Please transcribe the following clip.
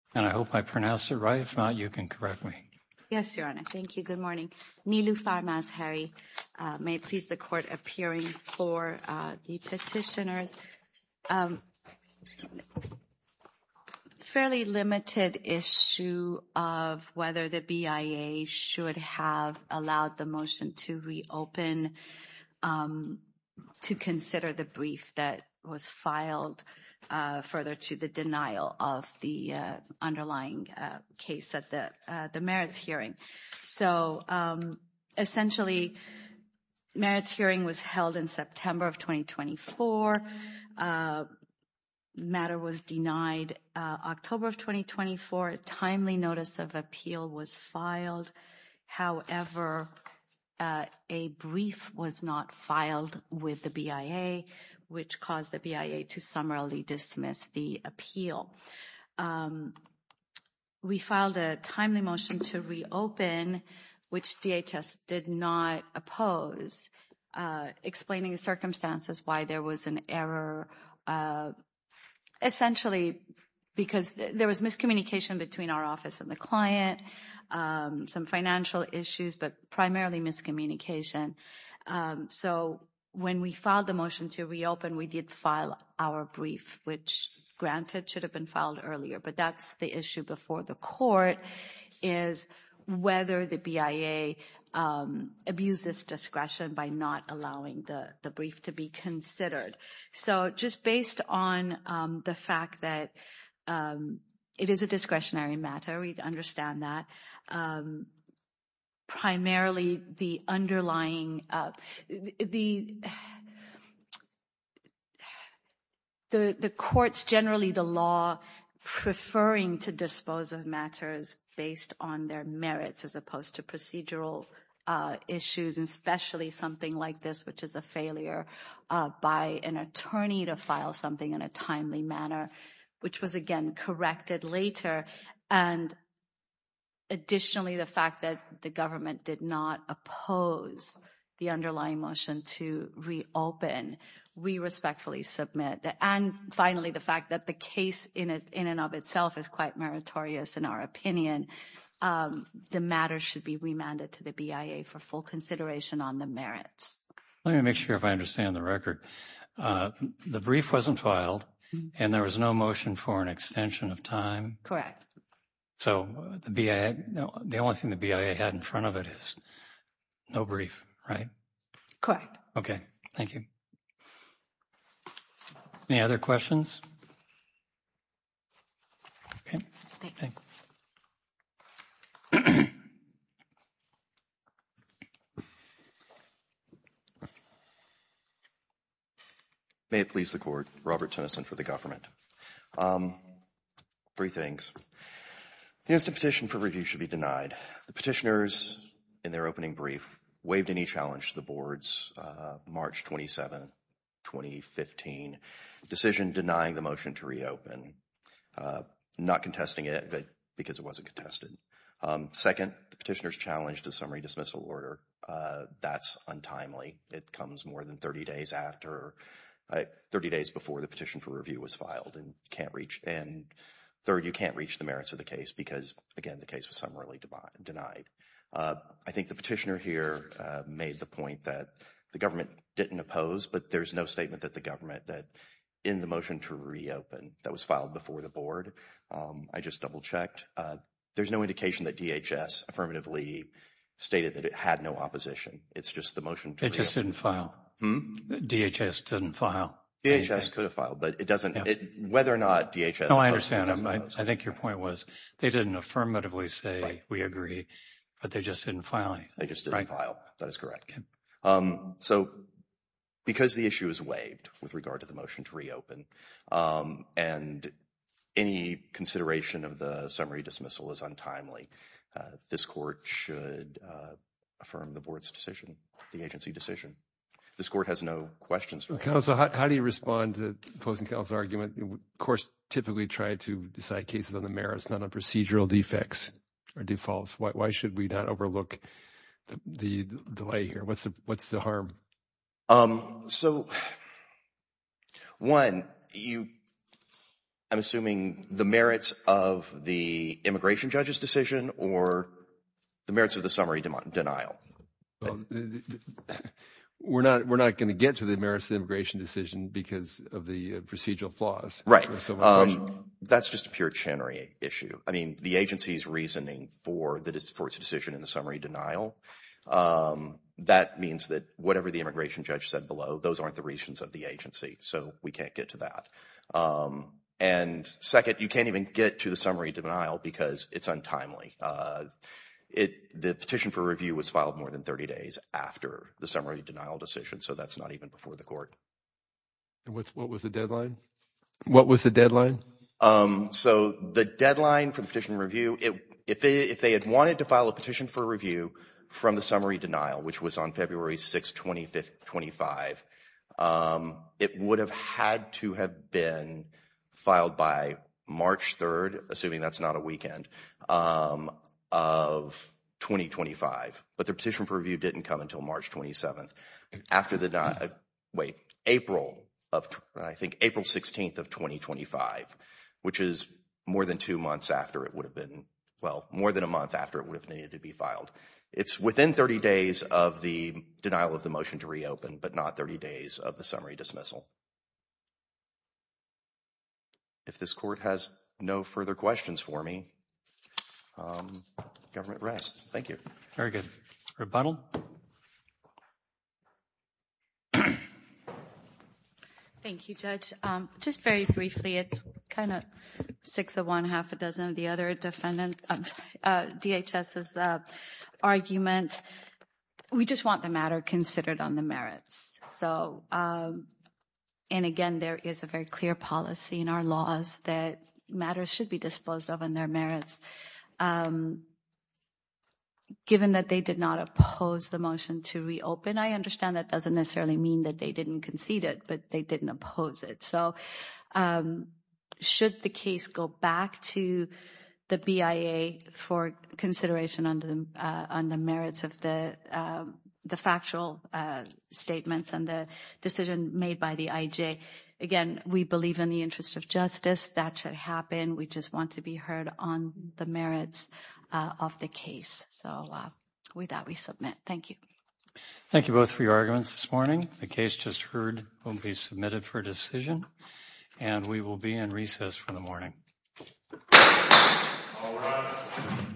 And I hope I pronounced it right. If not, you can correct me. Yes, Your Honor. Thank you. Good morning. Niloufar Mazhari. May it please the Court, appearing for the petitioners. Fairly limited issue of whether the BIA should have allowed the motion to reopen to consider the brief that was filed further to the denial of the underlying case at the merits hearing. So, essentially, merits hearing was held in September of 2024. The matter was denied October of 2024. A timely notice of appeal was filed. However, a brief was not filed with the BIA, which caused the BIA to summarily dismiss the appeal. We filed a timely motion to reopen, which DHS did not oppose, explaining the circumstances, why there was an error. Essentially, because there was miscommunication between our office and the client, some financial issues, but primarily miscommunication. So, when we filed the motion to reopen, we did file our brief, which, granted, should have been filed earlier. But that's the issue before the Court, is whether the BIA abuses discretion by not allowing the brief to be considered. So, just based on the fact that it is a discretionary matter, we understand that. Primarily, the underlying, the courts, generally the law, preferring to dispose of matters based on their merits, as opposed to procedural issues, especially something like this, which is a failure by an attorney to file something in a timely manner, which was, again, corrected later. And additionally, the fact that the government did not oppose the underlying motion to reopen, we respectfully submit. And finally, the fact that the case in and of itself is quite meritorious, in our opinion, the matter should be remanded to the BIA for full consideration on the merits. Let me make sure if I understand the record. The brief wasn't filed, and there was no motion for an extension of time? Correct. So, the BIA, the only thing the BIA had in front of it is no brief, right? Correct. Okay, thank you. Any other questions? Okay. May it please the Court. Robert Tennyson for the government. Three things. The instant petition for review should be denied. The petitioners, in their opening brief, waived any challenge to the board's March 27, 2015, decision denying the motion to reopen. Not contesting it, but because it wasn't contested. Second, the petitioners challenged a summary dismissal order. That's untimely. It comes more than 30 days after, 30 days before the petition for review was filed, and third, you can't reach the merits of the case because, again, the case was summarily denied. I think the petitioner here made the point that the government didn't oppose, but there's no statement that the government that, in the motion to reopen, that was filed before the board. I just double-checked. There's no indication that DHS affirmatively stated that it had no opposition. It's just the motion to reopen. It just didn't file. DHS didn't file. DHS could have filed, but it doesn't, whether or not DHS opposed it. No, I understand. I think your point was they didn't affirmatively say, we agree, but they just didn't file anything. They just didn't file. That is correct. So, because the issue is waived with regard to the motion to reopen, and any consideration of the summary dismissal is untimely, this court should affirm the board's decision, the agency decision. This court has no questions for it. Counsel, how do you respond to opposing counsel's argument? Of course, typically try to decide cases on the merits, not on procedural defects or defaults. Why should we not overlook the delay here? What's the harm? So, one, I'm assuming the merits of the immigration judge's decision or the merits of the summary denial. Well, we're not going to get to the merits of the immigration decision because of the procedural flaws. Right. That's just a puritanary issue. I mean, the agency's reasoning for its decision in the summary denial, that means that whatever the immigration judge said below, those aren't the reasons of the agency. So, we can't get to that. And second, you can't even get to the summary denial because it's untimely. The petition for review was filed more than 30 days after the summary denial decision, so that's not even before the court. And what was the deadline? What was the deadline? So, the deadline for the petition review, if they had wanted to file a petition for review from the summary denial, which was on February 6th, 2025, it would have had to have been filed by March 3rd, assuming that's not a weekend, of 2025. But the petition for review didn't come until March 27th, after the, wait, April of, I think April 16th of 2025, which is more than two months after it would have been, well, more than a month after it would have needed to be filed. It's within 30 days of the denial of the motion to reopen, but not 30 days of the summary dismissal. If this court has no further questions for me, government rest. Thank you. Very good. Rebuttal. Thank you, Judge. Just very briefly, it's kind of six of one, half a dozen of the other defendants, DHS's argument. We just want the matter considered on the merits. So, and again, there is a very clear policy in our laws that matters should be disposed of in their merits. Given that they did not oppose the motion to reopen, I understand that doesn't necessarily mean that they didn't concede it, but they didn't oppose it. So, should the case go back to the BIA for consideration on the merits of the factual statements and the decision made by the IJ, again, we believe in the interest of justice. That should happen. We just want to be heard on the merits of the case. So, with that, we submit. Thank you. Thank you both for your arguments this morning. The case just heard will be submitted for decision, and we will be in recess for the morning.